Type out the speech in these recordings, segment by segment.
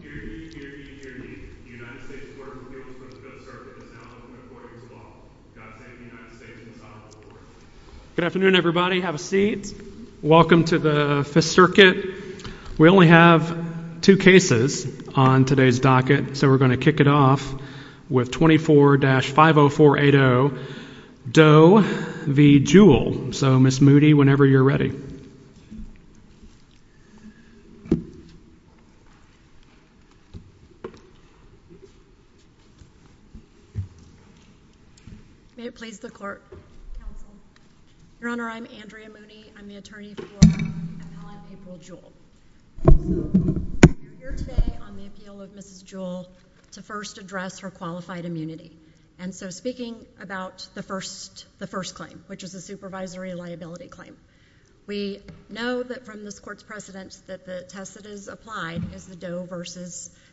Hear ye, hear ye, hear ye. The United States Court of Appeals for the Doe Circuit is now open according to law. God save the United States and the Son of the Lord. May it please the Court. Counsel. Your Honor, I'm Andrea Mooney. I'm the attorney for Appellate April Jewell. You're here today on the appeal of Mrs. Jewell to first address her qualified immunity. And so speaking about the first claim, which is a supervisory liability claim, we know that from this Court's precedence that the test that is applied is the Doe v.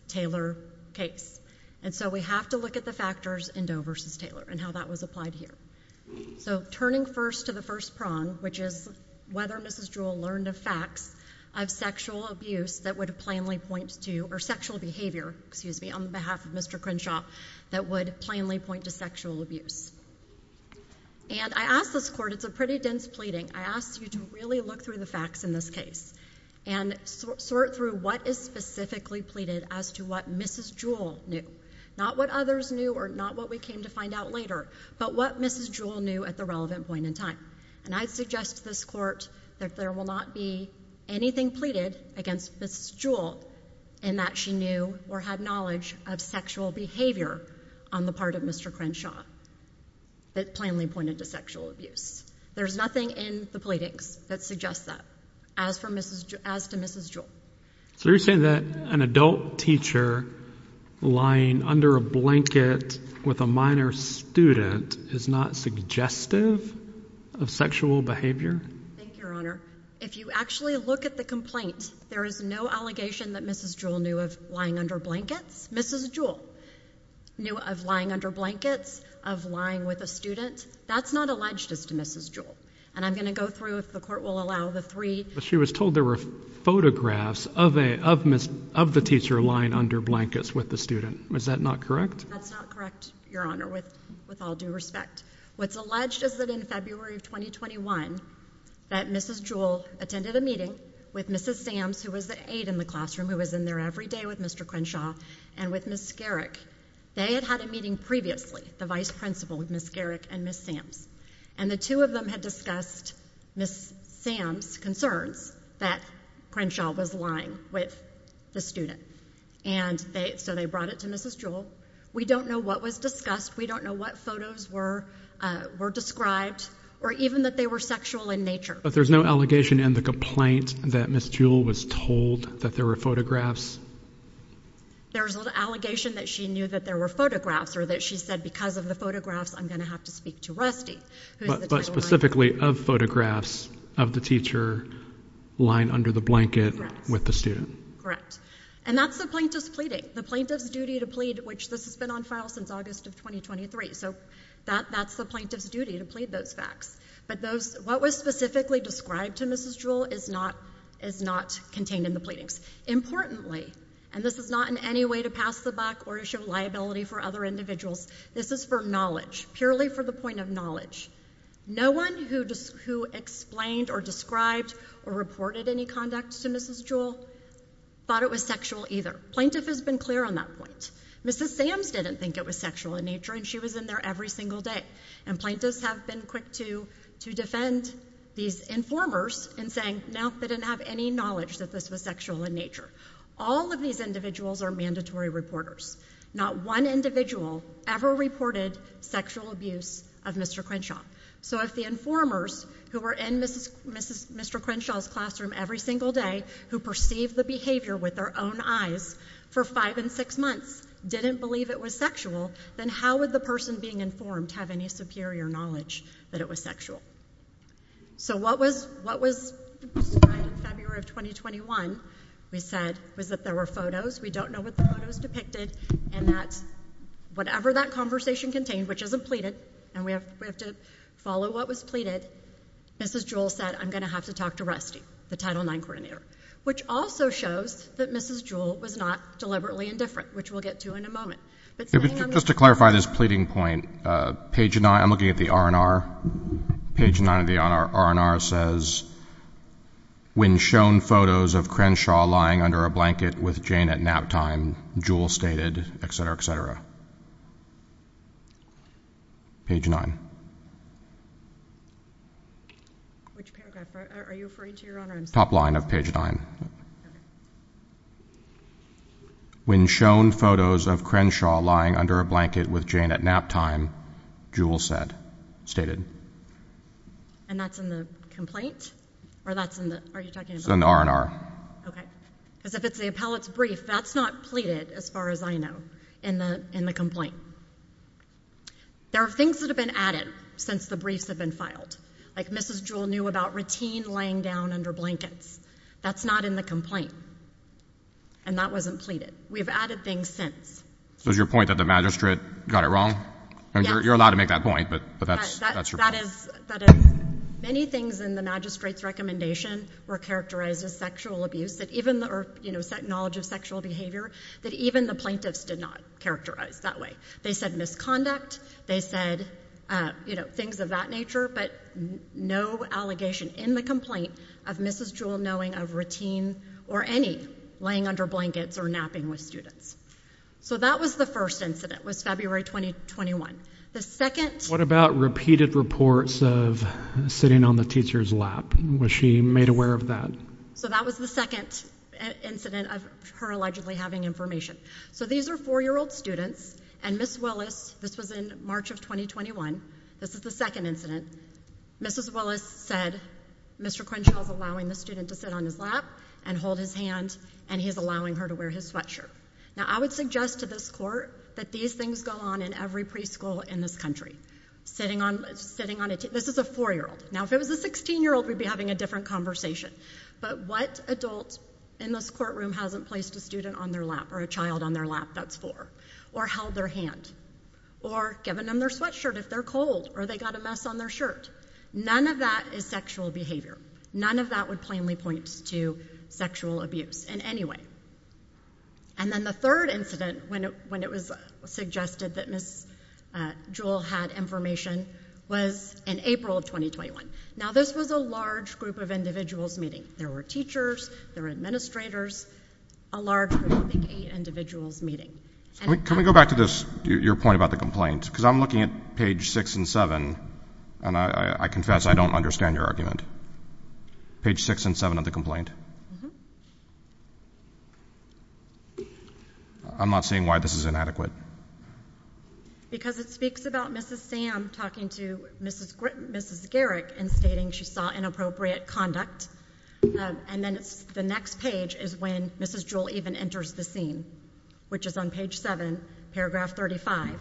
Taylor case. And so we have to look at the factors in Doe v. Taylor and how that was applied here. So turning first to the first prong, which is whether Mrs. Jewell learned of facts of sexual abuse that would plainly point to, or sexual behavior, excuse me, on behalf of Mr. Crenshaw, that would plainly point to sexual abuse. And I ask this Court, it's a pretty dense pleading, I ask you to really look through the facts in this case and sort through what is specifically pleaded as to what Mrs. Jewell knew. Not what others knew or not what we came to find out later, but what Mrs. Jewell knew at the relevant point in time. And I suggest to this Court that there will not be anything pleaded against Mrs. Jewell in that she knew or had knowledge of sexual behavior on the part of Mr. Crenshaw that plainly pointed to sexual abuse. There's nothing in the pleadings that suggests that, as to Mrs. Jewell. So you're saying that an adult teacher lying under a blanket with a minor student is not suggestive of sexual behavior? Thank you, Your Honor. If you actually look at the complaint, there is no allegation that Mrs. Jewell knew of lying under blankets. Mrs. Jewell knew of lying under blankets, of lying with a student. That's not alleged as to Mrs. Jewell. And I'm going to go through, if the Court will allow the three. She was told there were photographs of the teacher lying under blankets with the student. Is that not correct? That's not correct, Your Honor, with all due respect. What's alleged is that in February of 2021, that Mrs. Jewell attended a meeting with Mrs. Sams, who was the aide in the classroom, who was in there every day with Mr. Crenshaw, and with Ms. Garrick. They had had a meeting previously, the vice principal, with Ms. Garrick and Ms. Sams. And the two of them had discussed Ms. Sams' concerns that Crenshaw was lying with the student. And so they brought it to Mrs. Jewell. We don't know what was discussed. We don't know what photos were described, or even that they were sexual in nature. But there's no allegation in the complaint that Mrs. Jewell was told that there were photographs? There's no allegation that she knew that there were photographs, or that she said, because of the photographs, I'm going to have to speak to Rusty. But specifically of photographs of the teacher lying under the blanket with the student. Correct. And that's the plaintiff's pleading. The plaintiff's duty to plead, which this has been on file since August of 2023, so that's the plaintiff's duty to plead those facts. But what was specifically described to Mrs. Jewell is not contained in the pleadings. Importantly, and this is not in any way to pass the buck or to show liability for other individuals, this is for knowledge, purely for the point of knowledge. No one who explained or described or reported any conduct to Mrs. Jewell thought it was sexual either. Plaintiff has been clear on that point. Mrs. Sams didn't think it was sexual in nature, and she was in there every single day. And plaintiffs have been quick to defend these informers in saying, no, they didn't have any knowledge that this was sexual in nature. All of these individuals are mandatory reporters. Not one individual ever reported sexual abuse of Mr. Crenshaw. So if the informers who were in Mr. Crenshaw's classroom every single day, who perceived the behavior with their own eyes for five and six months, didn't believe it was sexual, then how would the person being informed have any superior knowledge that it was sexual? So what was described in February of 2021, we said, was that there were photos. We don't know what the photos depicted, and that whatever that conversation contained, which isn't pleaded, and we have to follow what was pleaded, Mrs. Jewell said, I'm going to have to talk to Rusty, the Title IX coordinator, which also shows that Mrs. Jewell was not deliberately indifferent, which we'll get to in a moment. Just to clarify this pleading point, page 9, I'm looking at the R&R, page 9 of the R&R says, when shown photos of Crenshaw lying under a blanket with Jane at nap time, Jewell stated, et cetera, et cetera. Page 9. Which paragraph? Are you referring to your own or I'm saying? Top line of page 9. Okay. When shown photos of Crenshaw lying under a blanket with Jane at nap time, Jewell said, stated. And that's in the complaint? Or that's in the, are you talking about? It's in the R&R. Okay. Because if it's the appellate's brief, that's not pleaded, as far as I know, in the complaint. There are things that have been added since the briefs have been filed. Like Mrs. Jewell knew about routine laying down under blankets. That's not in the complaint. And that wasn't pleaded. We've added things since. So is your point that the magistrate got it wrong? Yeah. You're allowed to make that point, but that's your point. Many things in the magistrate's recommendation were characterized as sexual abuse. That even the, you know, set knowledge of sexual behavior. That even the plaintiffs did not characterize that way. They said misconduct. They said, you know, things of that nature. But no allegation in the complaint of Mrs. Jewell knowing of routine or any laying under blankets or napping with students. So that was the first incident, was February 2021. The second. What about repeated reports of sitting on the teacher's lap? Was she made aware of that? So that was the second incident of her allegedly having information. So these are four-year-old students. And Ms. Willis, this was in March of 2021. This is the second incident. Mrs. Willis said Mr. Crenshaw is allowing the student to sit on his lap and hold his hand. And he's allowing her to wear his sweatshirt. Now, I would suggest to this court that these things go on in every preschool in this country. Sitting on a teacher's lap. This is a four-year-old. Now, if it was a 16-year-old, we'd be having a different conversation. But what adult in this courtroom hasn't placed a student on their lap or a child on their lap? That's four. Or held their hand. Or given them their sweatshirt if they're cold. Or they got a mess on their shirt. None of that is sexual behavior. None of that would plainly point to sexual abuse in any way. And then the third incident, when it was suggested that Ms. Jewell had information, was in April of 2021. Now, this was a large group of individuals meeting. There were teachers. There were administrators. A large group of, I think, eight individuals meeting. Can we go back to this, your point about the complaint? Because I'm looking at page six and seven, and I confess I don't understand your argument. Page six and seven of the complaint. I'm not seeing why this is inadequate. Because it speaks about Mrs. Sam talking to Mrs. Garrick and stating she saw inappropriate conduct. And then the next page is when Mrs. Jewell even enters the scene, which is on page seven, paragraph 35.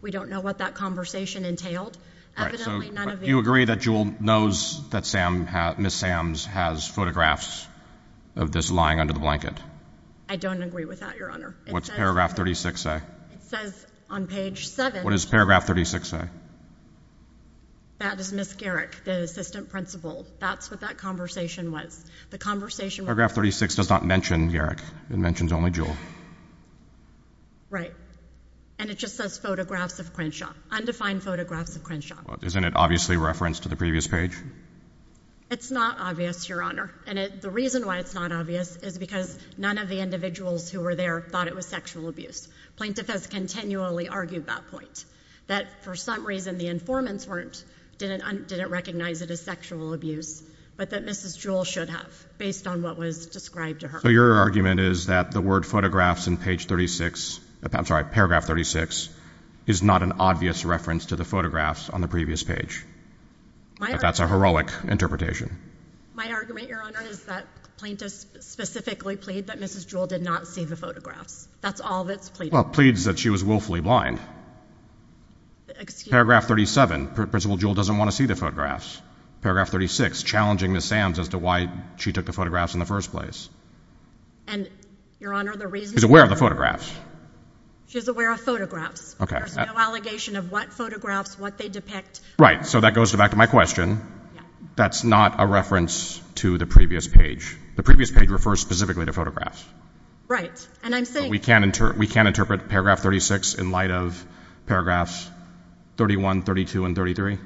We don't know what that conversation entailed. Do you agree that Jewell knows that Ms. Sams has photographs of this lying under the blanket? I don't agree with that, your Honor. What's paragraph 36 say? It says on page seven. What does paragraph 36 say? That is Ms. Garrick, the assistant principal. That's what that conversation was. The conversation was. Paragraph 36 does not mention Garrick. It mentions only Jewell. Right. And it just says photographs of Crenshaw, undefined photographs of Crenshaw. Isn't it obviously referenced to the previous page? It's not obvious, your Honor. And the reason why it's not obvious is because none of the individuals who were there thought it was sexual abuse. Plaintiff has continually argued that point, that for some reason the informants didn't recognize it as sexual abuse, but that Mrs. Jewell should have, based on what was described to her. So your argument is that the word photographs in page 36, I'm sorry, paragraph 36, is not an obvious reference to the photographs on the previous page. That's a heroic interpretation. My argument, your Honor, is that plaintiffs specifically plead that Mrs. Jewell did not see the photographs. That's all that's pleaded. Well, it pleads that she was willfully blind. Paragraph 37, Principal Jewell doesn't want to see the photographs. Paragraph 36, challenging Ms. Sams as to why she took the photographs in the first place. And, your Honor, the reason she took the photographs... She's aware of the photographs. She's aware of photographs. Okay. There's no allegation of what photographs, what they depict. Right. So that goes back to my question. Yeah. That's not a reference to the previous page. The previous page refers specifically to photographs. Right. And I'm saying... We can't interpret paragraph 36 in light of paragraphs 31, 32, and 33?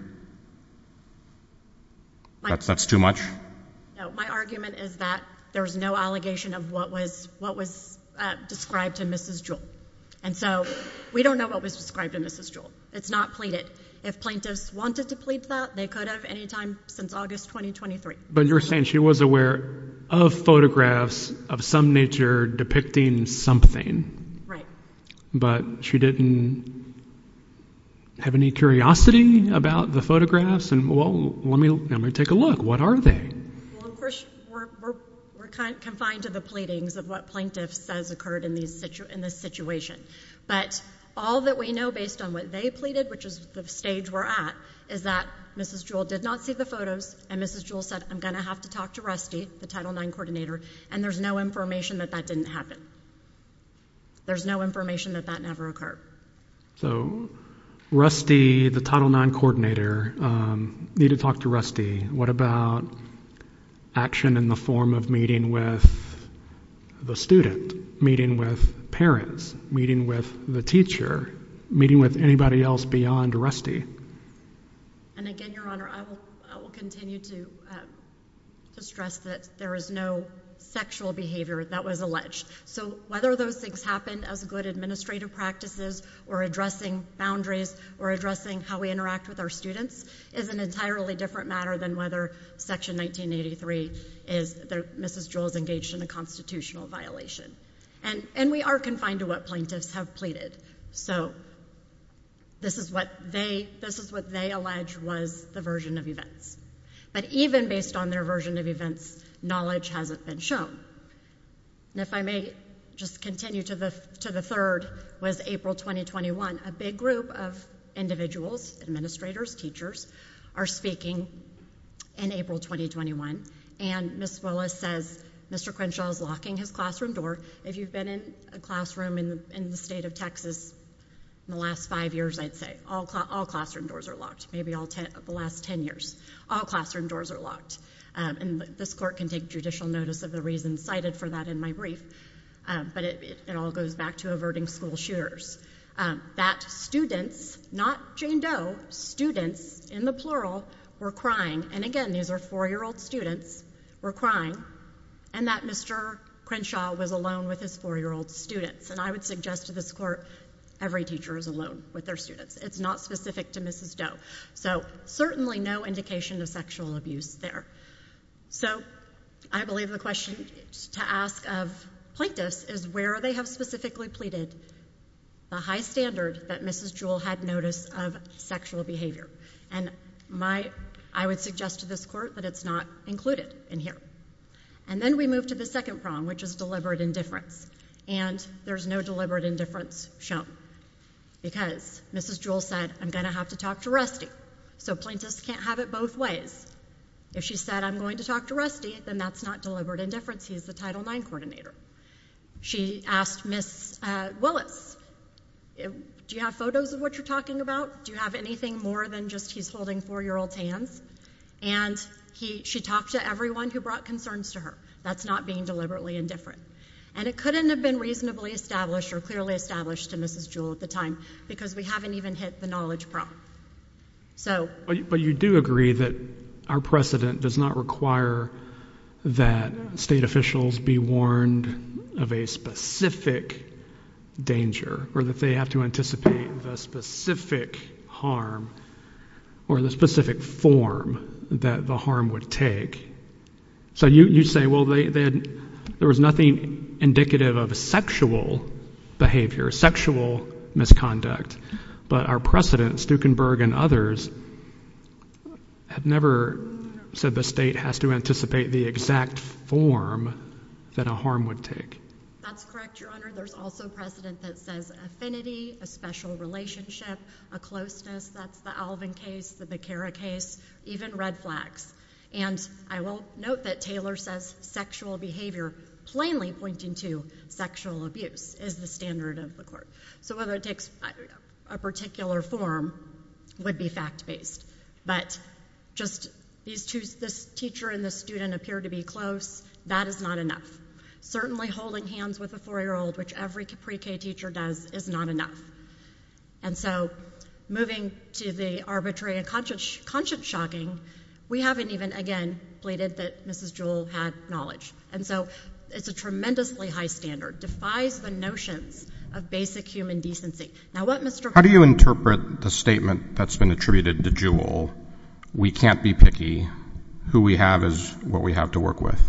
That's too much? No. My argument is that there's no allegation of what was described to Mrs. Jewell. And so we don't know what was described to Mrs. Jewell. It's not pleaded. If plaintiffs wanted to plead that, they could have any time since August 2023. But you're saying she was aware of photographs of some nature depicting something. But she didn't have any curiosity about the photographs? Well, let me take a look. What are they? Well, of course, we're confined to the pleadings of what plaintiff says occurred in this situation. But all that we know based on what they pleaded, which is the stage we're at, is that Mrs. Jewell did not see the photos, and Mrs. Jewell said, I'm going to have to talk to Rusty, the Title IX coordinator, and there's no information that that didn't happen. There's no information that that never occurred. So Rusty, the Title IX coordinator, needed to talk to Rusty. What about action in the form of meeting with the student, meeting with parents, meeting with the teacher, meeting with anybody else beyond Rusty? And again, Your Honor, I will continue to stress that there is no sexual behavior that was alleged. So whether those things happened as good administrative practices or addressing boundaries or addressing how we interact with our students is an entirely different matter than whether Section 1983 is that Mrs. Jewell is engaged in a constitutional violation. And we are confined to what plaintiffs have pleaded. So this is what they allege was the version of events. But even based on their version of events, knowledge hasn't been shown. And if I may just continue to the third was April 2021. A big group of individuals, administrators, teachers, are speaking in April 2021, and Ms. Willis says Mr. Crenshaw is locking his classroom door. If you've been in a classroom in the state of Texas in the last five years, I'd say, all classroom doors are locked, maybe the last ten years. All classroom doors are locked. And this court can take judicial notice of the reasons cited for that in my brief. But it all goes back to averting school shooters. That students, not Jane Doe, students, in the plural, were crying. And again, these are four-year-old students, were crying. And that Mr. Crenshaw was alone with his four-year-old students. And I would suggest to this court every teacher is alone with their students. It's not specific to Mrs. Doe. So certainly no indication of sexual abuse there. So I believe the question to ask of plaintiffs is where they have specifically pleaded the high standard that Mrs. Jewell had notice of sexual behavior. And I would suggest to this court that it's not included in here. And then we move to the second problem, which is deliberate indifference. And there's no deliberate indifference shown. Because Mrs. Jewell said, I'm going to have to talk to Rusty. So plaintiffs can't have it both ways. If she said, I'm going to talk to Rusty, then that's not deliberate indifference. He's the Title IX coordinator. She asked Ms. Willis, do you have photos of what you're talking about? Do you have anything more than just he's holding four-year-old's hands? And she talked to everyone who brought concerns to her. That's not being deliberately indifferent. And it couldn't have been reasonably established or clearly established to Mrs. Jewell at the time because we haven't even hit the knowledge problem. But you do agree that our precedent does not require that state officials be warned of a specific danger or that they have to anticipate the specific harm or the specific form that the harm would take. So you say, well, there was nothing indicative of sexual behavior, sexual misconduct. But our precedent, Stukenberg and others, have never said the state has to anticipate the exact form that a harm would take. That's correct, Your Honor. There's also precedent that says affinity, a special relationship, a closeness. That's the Alvin case, the Becara case, even red flags. And I will note that Taylor says sexual behavior plainly pointing to sexual abuse is the standard of the court. So whether it takes a particular form would be fact-based. But just this teacher and this student appear to be close, that is not enough. Certainly holding hands with a 4-year-old, which every pre-K teacher does, is not enough. And so moving to the arbitrary and conscience-shocking, we haven't even, again, pleaded that Mrs. Jewell had knowledge. And so it's a tremendously high standard, defies the notions of basic human decency. Now what Mr. – How do you interpret the statement that's been attributed to Jewell, we can't be picky, who we have is what we have to work with?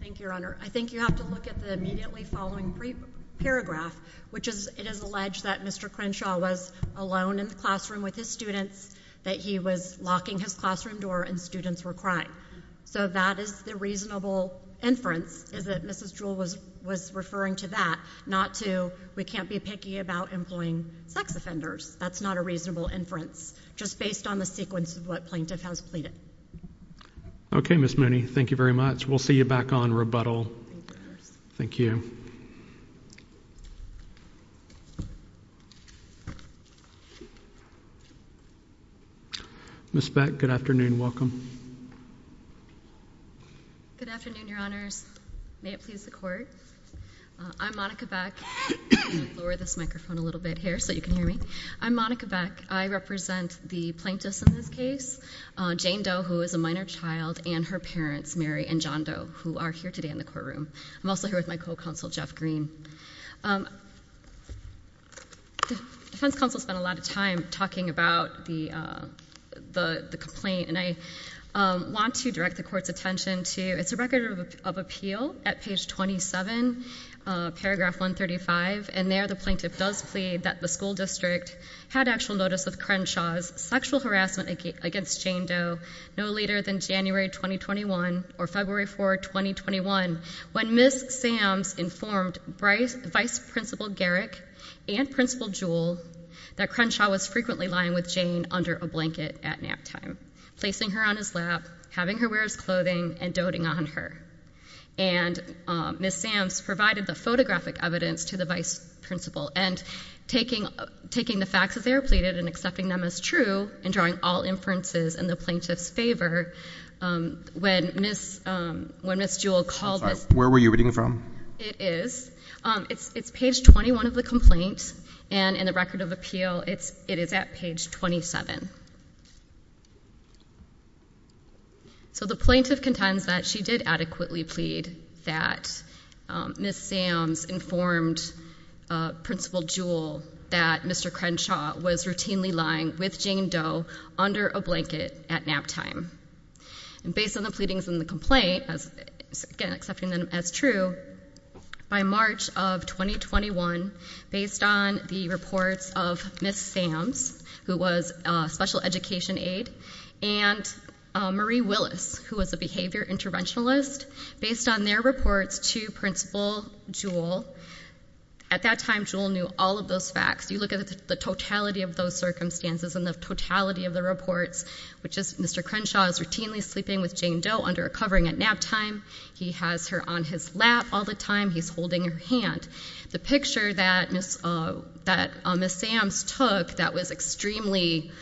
Thank you, Your Honor. I think you have to look at the immediately following paragraph, which is it is alleged that Mr. Crenshaw was alone in the classroom with his students, that he was locking his classroom door and students were crying. So that is the reasonable inference, is that Mrs. Jewell was referring to that, not to we can't be picky about employing sex offenders. That's not a reasonable inference, just based on the sequence of what plaintiff has pleaded. Okay, Ms. Mooney, thank you very much. We'll see you back on rebuttal. Thank you. Ms. Beck, good afternoon. Welcome. Good afternoon, Your Honors. May it please the Court. I'm Monica Beck. I'm going to lower this microphone a little bit here so you can hear me. I'm Monica Beck. I represent the plaintiffs in this case. Jane Doe, who is a minor child, and her parents, Mary and John Doe, who are here today in the courtroom. I'm also here with my co-counsel, Jeff Green. The defense counsel spent a lot of time talking about the complaint, and I want to direct the Court's attention to it's a record of appeal at page 27, paragraph 135, and there the plaintiff does plead that the school district had actual notice of Crenshaw's sexual harassment against Jane Doe no later than January 2021 or February 4, 2021, when Ms. Sams informed Vice Principal Garrick and Principal Jewell that Crenshaw was frequently lying with Jane under a blanket at naptime, placing her on his lap, having her wear his clothing, and doting on her. And Ms. Sams provided the photographic evidence to the Vice Principal and taking the facts as they were pleaded and accepting them as true and drawing all inferences in the plaintiff's favor when Ms. Jewell called Ms. I'm sorry, where were you reading from? It is. It's page 21 of the complaint, and in the record of appeal it is at page 27. So the plaintiff contends that she did adequately plead that Ms. Sams informed Principal Jewell that Mr. Crenshaw was routinely lying with Jane Doe under a blanket at naptime. Based on the pleadings in the complaint, again accepting them as true, by March of 2021, based on the reports of Ms. Sams, who was a special education aide, and Marie Willis, who was a behavior interventionalist, based on their reports to Principal Jewell, at that time Jewell knew all of those facts. You look at the totality of those circumstances and the totality of the reports, which is Mr. Crenshaw is routinely sleeping with Jane Doe under a covering at naptime. He has her on his lap all the time. He's holding her hand. The picture that Ms. Sams took that was extremely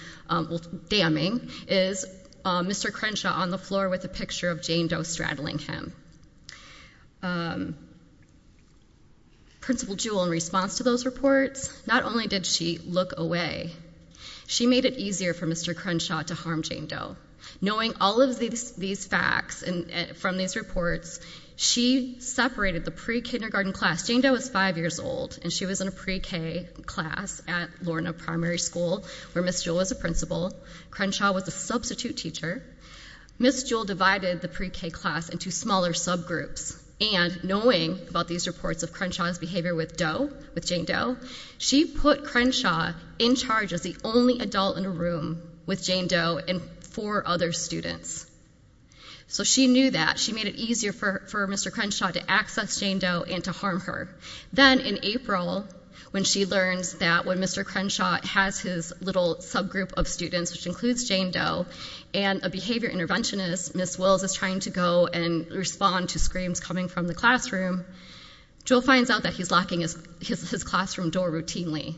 damning is Mr. Crenshaw on the floor with a picture of Jane Doe straddling him. Principal Jewell, in response to those reports, not only did she look away, she made it easier for Mr. Crenshaw to harm Jane Doe. Knowing all of these facts from these reports, she separated the pre-kindergarten class. Jane Doe was five years old, and she was in a pre-K class at Lorna Primary School, where Ms. Jewell was a principal. Crenshaw was a substitute teacher. Ms. Jewell divided the pre-K class into smaller subgroups, and knowing about these reports of Crenshaw's behavior with Jane Doe, she put Crenshaw in charge as the only adult in a room with Jane Doe and four other students. So she knew that. She made it easier for Mr. Crenshaw to access Jane Doe and to harm her. Then in April, when she learns that when Mr. Crenshaw has his little subgroup of students, which includes Jane Doe, and a behavior interventionist, Ms. Wills, is trying to go and respond to screams coming from the classroom, Jewell finds out that he's locking his classroom door routinely.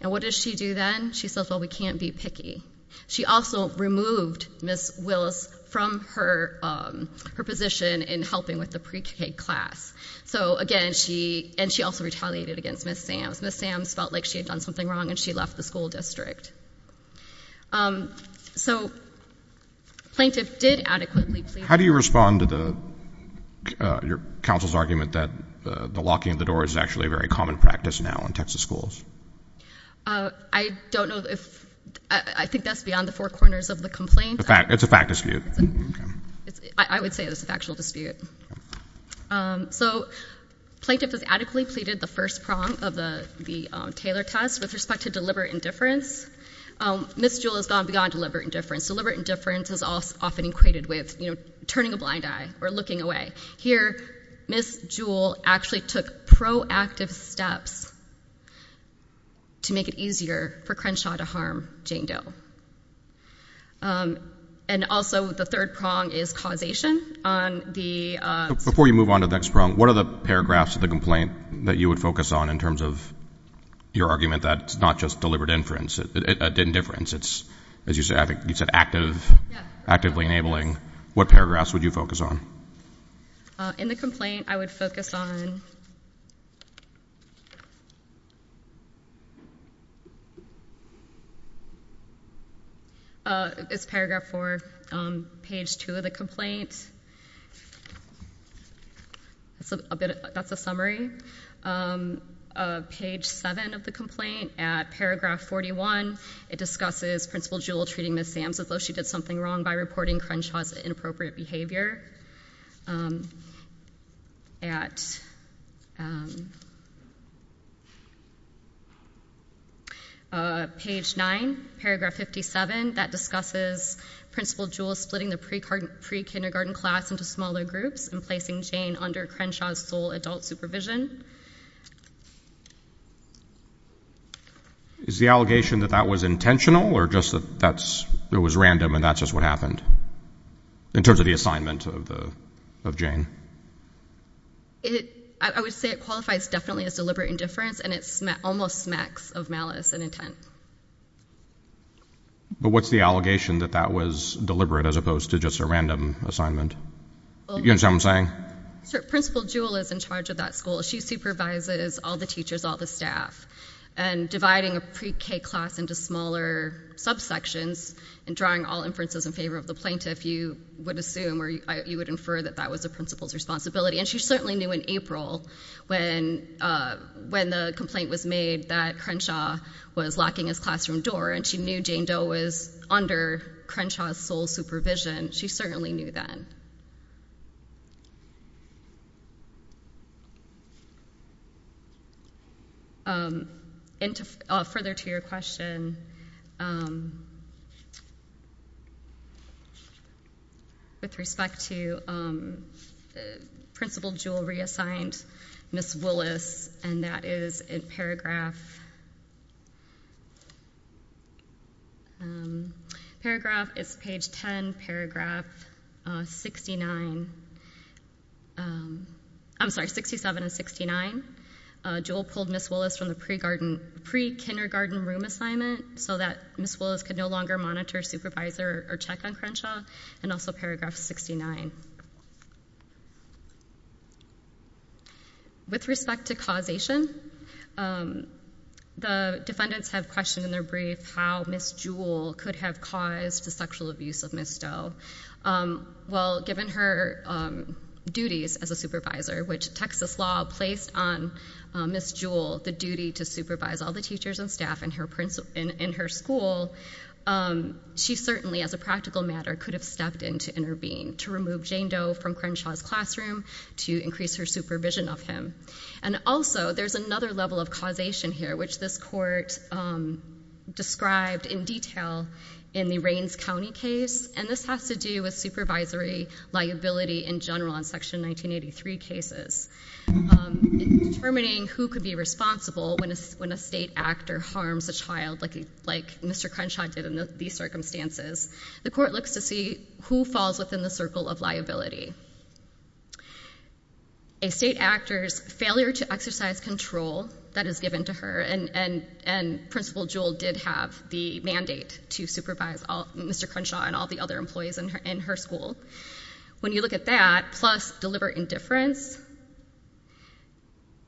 And what does she do then? She says, well, we can't be picky. She also removed Ms. Wills from her position in helping with the pre-K class. So, again, she also retaliated against Ms. Sams. Ms. Sams felt like she had done something wrong, and she left the school district. So the plaintiff did adequately plead the case. How do you respond to your counsel's argument that the locking of the door is actually a very common practice now in Texas schools? I don't know. I think that's beyond the four corners of the complaint. It's a fact dispute. I would say it's a factual dispute. So plaintiff has adequately pleaded the first prong of the Taylor test with respect to deliberate indifference. Ms. Jewell has gone beyond deliberate indifference. Deliberate indifference is often equated with turning a blind eye or looking away. Here, Ms. Jewell actually took proactive steps to make it easier for Crenshaw to harm Jane Doe. And also the third prong is causation. Before you move on to the next prong, what are the paragraphs of the complaint that you would focus on in terms of your argument that it's not just deliberate indifference. It's, as you said, active, actively enabling. What paragraphs would you focus on? In the complaint, I would focus on it's paragraph four, page two of the complaint. That's a summary. Page seven of the complaint, at paragraph 41, it discusses Principal Jewell treating Ms. Sams as though she did something wrong by reporting Crenshaw's inappropriate behavior. Page nine, paragraph 57, that discusses Principal Jewell splitting the pre-kindergarten class into smaller groups and placing Jane under Crenshaw's sole adult supervision. Is the allegation that that was intentional or just that it was random and that's just what happened in terms of the assignment of Jane? I would say it qualifies definitely as deliberate indifference and it almost smacks of malice and intent. But what's the allegation that that was deliberate as opposed to just a random assignment? You understand what I'm saying? Principal Jewell is in charge of that school. She supervises all the teachers, all the staff. And dividing a pre-k class into smaller subsections and drawing all inferences in favor of the plaintiff, you would assume or you would infer that that was the principal's responsibility. And she certainly knew in April when the complaint was made that Crenshaw was locking his classroom door and she knew Jane Doe was under Crenshaw's sole supervision. She certainly knew then. Further to your question, with respect to Principal Jewell reassigned Ms. Willis, and that is in paragraph... I'm sorry, 67 and 69. Jewell pulled Ms. Willis from the pre-kindergarten room assignment so that Ms. Willis could no longer monitor, supervise, or check on Crenshaw and also paragraph 69. With respect to causation, the defendants have questioned in their brief how Ms. Jewell could have caused the sexual abuse of Ms. Doe. Well, given her duties as a supervisor, which Texas law placed on Ms. Jewell the duty to supervise all the teachers and staff in her school, she certainly, as a practical matter, could have stepped in to intervene to remove Jane Doe from Crenshaw's classroom to increase her supervision of him. And also, there's another level of causation here which this court described in detail in the Raines County case, and this has to do with supervisory liability in general in Section 1983 cases. In determining who could be responsible when a state actor harms a child, like Mr. Crenshaw did in these circumstances, the court looks to see who falls within the circle of liability. A state actor's failure to exercise control that is given to her and Principal Jewell did have the mandate to supervise Mr. Crenshaw and all the other employees in her school. When you look at that, plus deliberate indifference,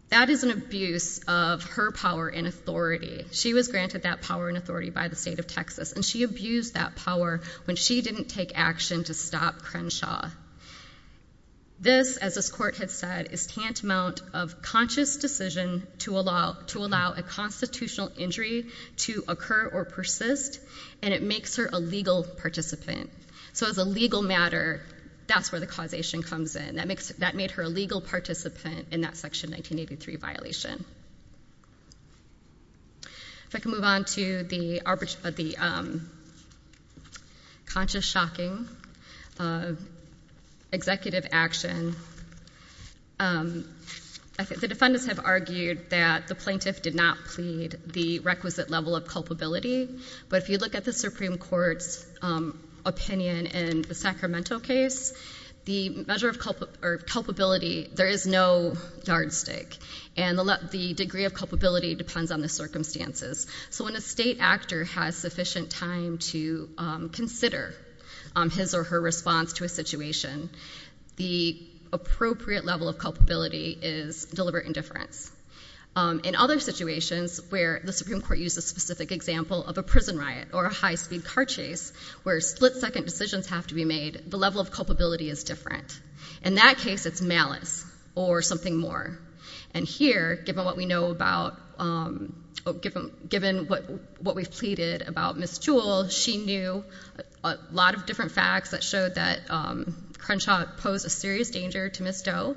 that is an abuse of her power and authority. She was granted that power and authority by the state of Texas, and she abused that power when she didn't take action to stop Crenshaw. This, as this court has said, is tantamount of conscious decision to allow a constitutional injury to occur or persist, and it makes her a legal participant. So as a legal matter, that's where the causation comes in. That made her a legal participant in that Section 1983 violation. If I can move on to the conscious shocking, executive action, the defendants have argued that the plaintiff did not plead the requisite level of culpability, but if you look at the Supreme Court's opinion in the Sacramento case, the measure of culpability, there is no yardstick, and the degree of culpability depends on the circumstances. So when a state actor has sufficient time to consider his or her response to a situation, the appropriate level of culpability is deliberate indifference. In other situations where the Supreme Court used a specific example of a prison riot or a high-speed car chase where split-second decisions have to be made, the level of culpability is different. In that case, it's malice or something more. And here, given what we know about, given what we've pleaded about Ms. Jewell, she knew a lot of different facts that showed that Crenshaw posed a serious danger to Ms. Doe.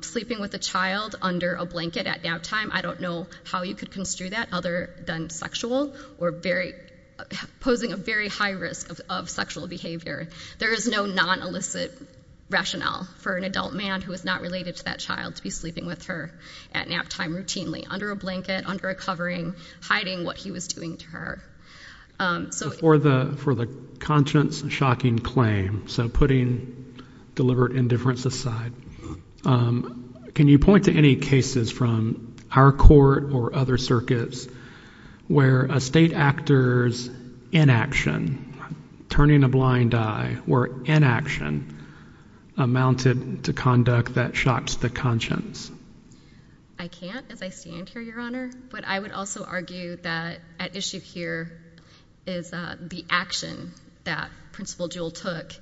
Sleeping with a child under a blanket at naptime, I don't know how you could construe that other than sexual or posing a very high risk of sexual behavior. There is no non-illicit rationale for an adult man who is not related to that child to be sleeping with her at naptime routinely under a blanket, under a covering, hiding what he was doing to her. So for the conscience-shocking claim, so putting deliberate indifference aside, can you point to any cases from our court or other circuits where a state actor's inaction, turning a blind eye, or inaction amounted to conduct that shocked the conscience? I can't as I stand here, Your Honor. But I would also argue that at issue here is the action that Principal Jewell took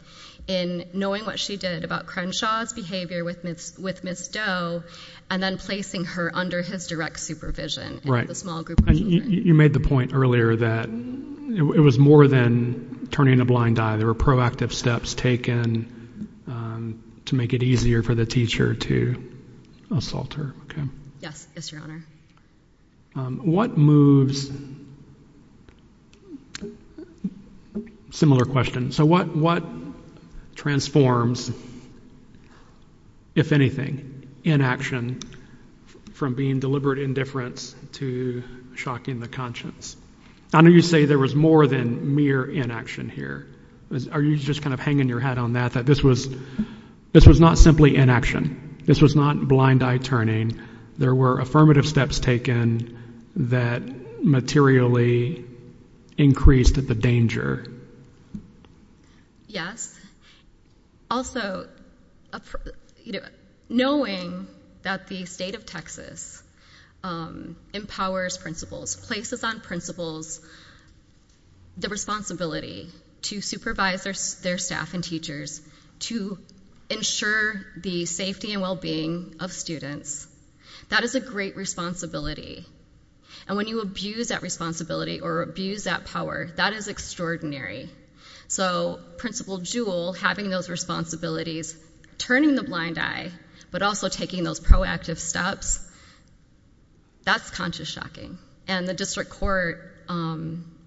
in knowing what she did about Crenshaw's behavior with Ms. Doe and then placing her under his direct supervision. Right. You made the point earlier that it was more than turning a blind eye. There were proactive steps taken to make it easier for the teacher to assault her. Yes, Your Honor. What moves... Similar question. So what transforms, if anything, inaction from being deliberate indifference to shocking the conscience? I know you say there was more than mere inaction here. Are you just kind of hanging your hat on that, that this was not simply inaction? This was not blind eye turning? There were affirmative steps taken that materially increased the danger? Yes. Also, knowing that the state of Texas empowers principals, places on principals the responsibility to supervise their staff and teachers to ensure the safety and well-being of students, that is a great responsibility. And when you abuse that responsibility or abuse that power, that is extraordinary. So Principal Jewell having those responsibilities, turning the blind eye, but also taking those proactive steps, that's conscious shocking. And the district court,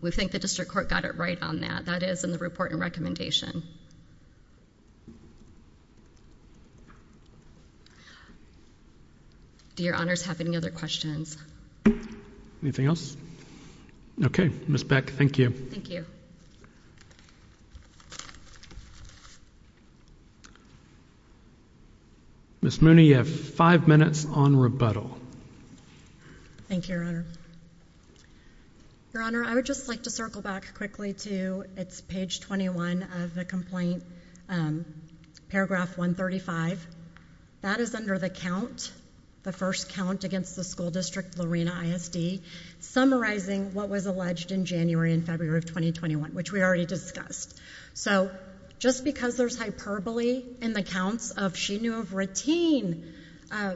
we think the district court got it right on that. That is in the report and recommendation. Do Your Honors have any other questions? Anything else? Okay. Ms. Beck, thank you. Thank you. Ms. Mooney, you have five minutes on rebuttal. Thank you, Your Honor. Your Honor, I would just like to circle back quickly to, it's page 21 of the complaint, paragraph 135. That is under the count, the first count against the school district, Lorena ISD, summarizing what was alleged in January and February of 2021. Which we already discussed. So just because there's hyperbole in the counts of she knew of routine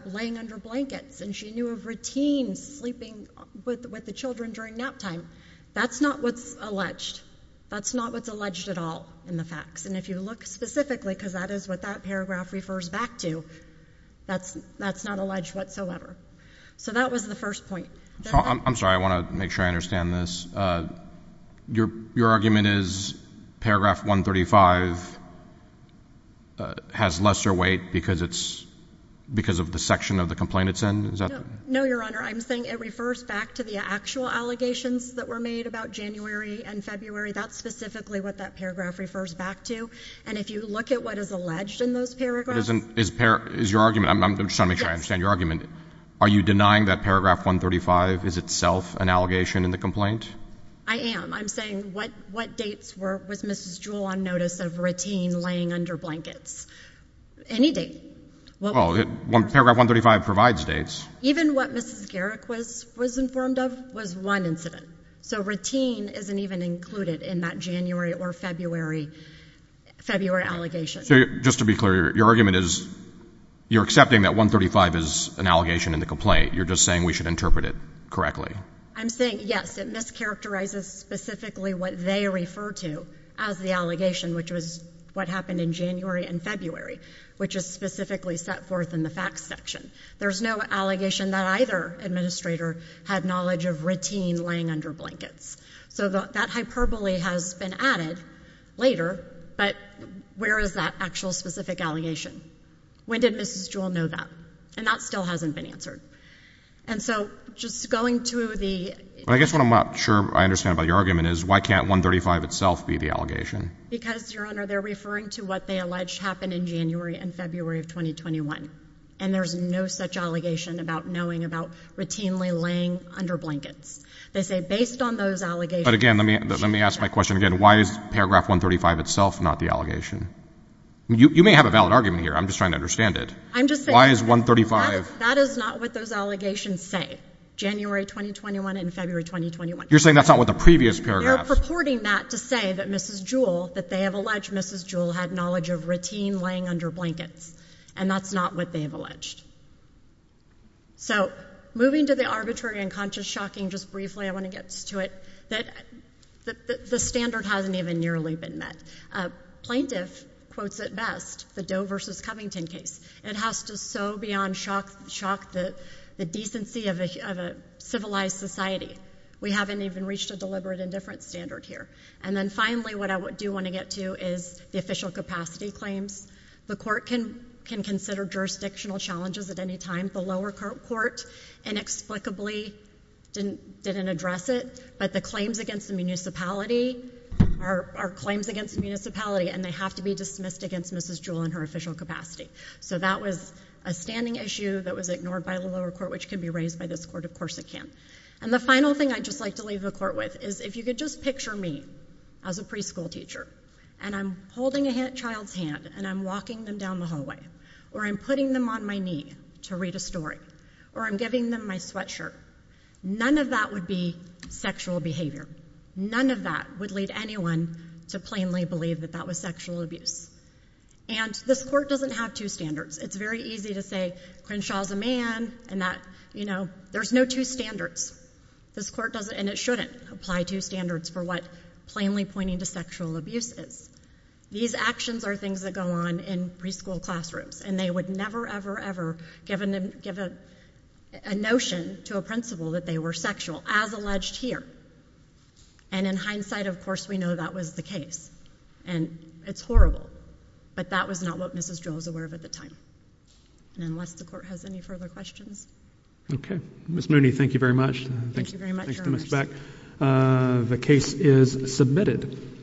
laying under blankets and she knew of routine sleeping with the children during nap time, that's not what's alleged. That's not what's alleged at all in the facts. And if you look specifically, because that is what that paragraph refers back to, that's not alleged whatsoever. So that was the first point. I'm sorry, I want to make sure I understand this. Your argument is paragraph 135 has lesser weight because of the section of the complaint it's in? No, Your Honor. I'm saying it refers back to the actual allegations that were made about January and February. That's specifically what that paragraph refers back to. And if you look at what is alleged in those paragraphs. I'm just trying to make sure I understand your argument. Are you denying that paragraph 135 is itself an allegation in the complaint? I am. I'm saying what dates was Mrs. Jewell on notice of routine laying under blankets? Any date. Well, paragraph 135 provides dates. Even what Mrs. Garrick was informed of was one incident. So routine isn't even included in that January or February allegation. Just to be clear, your argument is you're accepting that 135 is an allegation in the complaint. You're just saying we should interpret it correctly. I'm saying, yes, it mischaracterizes specifically what they refer to as the allegation, which was what happened in January and February, which is specifically set forth in the facts section. There's no allegation that either administrator had knowledge of routine laying under blankets. So that hyperbole has been added later, but where is that actual specific allegation? When did Mrs. Jewell know that? And that still hasn't been answered. And so just going to the— I guess what I'm not sure I understand about your argument is why can't 135 itself be the allegation? Because, Your Honor, they're referring to what they allege happened in January and February of 2021, and there's no such allegation about knowing about routinely laying under blankets. They say based on those allegations— But again, let me ask my question again. Why is paragraph 135 itself not the allegation? You may have a valid argument here. I'm just trying to understand it. I'm just saying— Why is 135— That is not what those allegations say, January 2021 and February 2021. You're saying that's not what the previous paragraph— They're purporting that to say that Mrs. Jewell, that they have alleged Mrs. Jewell had knowledge of routine laying under blankets, and that's not what they have alleged. So moving to the arbitrary and conscious shocking, just briefly I want to get to it, that the standard hasn't even nearly been met. Plaintiff quotes it best, the Doe versus Covington case. It has to sow beyond shock the decency of a civilized society. We haven't even reached a deliberate indifference standard here. And then finally what I do want to get to is the official capacity claims. The court can consider jurisdictional challenges at any time. The lower court inexplicably didn't address it, but the claims against the municipality are claims against the municipality, and they have to be dismissed against Mrs. Jewell in her official capacity. So that was a standing issue that was ignored by the lower court, which can be raised by this court. Of course it can. And the final thing I'd just like to leave the court with is if you could just picture me as a preschool teacher, and I'm holding a child's hand, and I'm walking them down the hallway, or I'm putting them on my knee to read a story, or I'm giving them my sweatshirt, none of that would be sexual behavior. None of that would lead anyone to plainly believe that that was sexual abuse. And this court doesn't have two standards. It's very easy to say Crenshaw's a man, and that, you know, there's no two standards. This court doesn't, and it shouldn't, apply two standards for what plainly pointing to sexual abuse is. These actions are things that go on in preschool classrooms, and they would never, ever, ever give a notion to a principal that they were sexual, as alleged here. And in hindsight, of course, we know that was the case. And it's horrible, but that was not what Mrs. Joe was aware of at the time. And unless the court has any further questions. Okay. Ms. Mooney, thank you very much. Thank you very much. The case is submitted.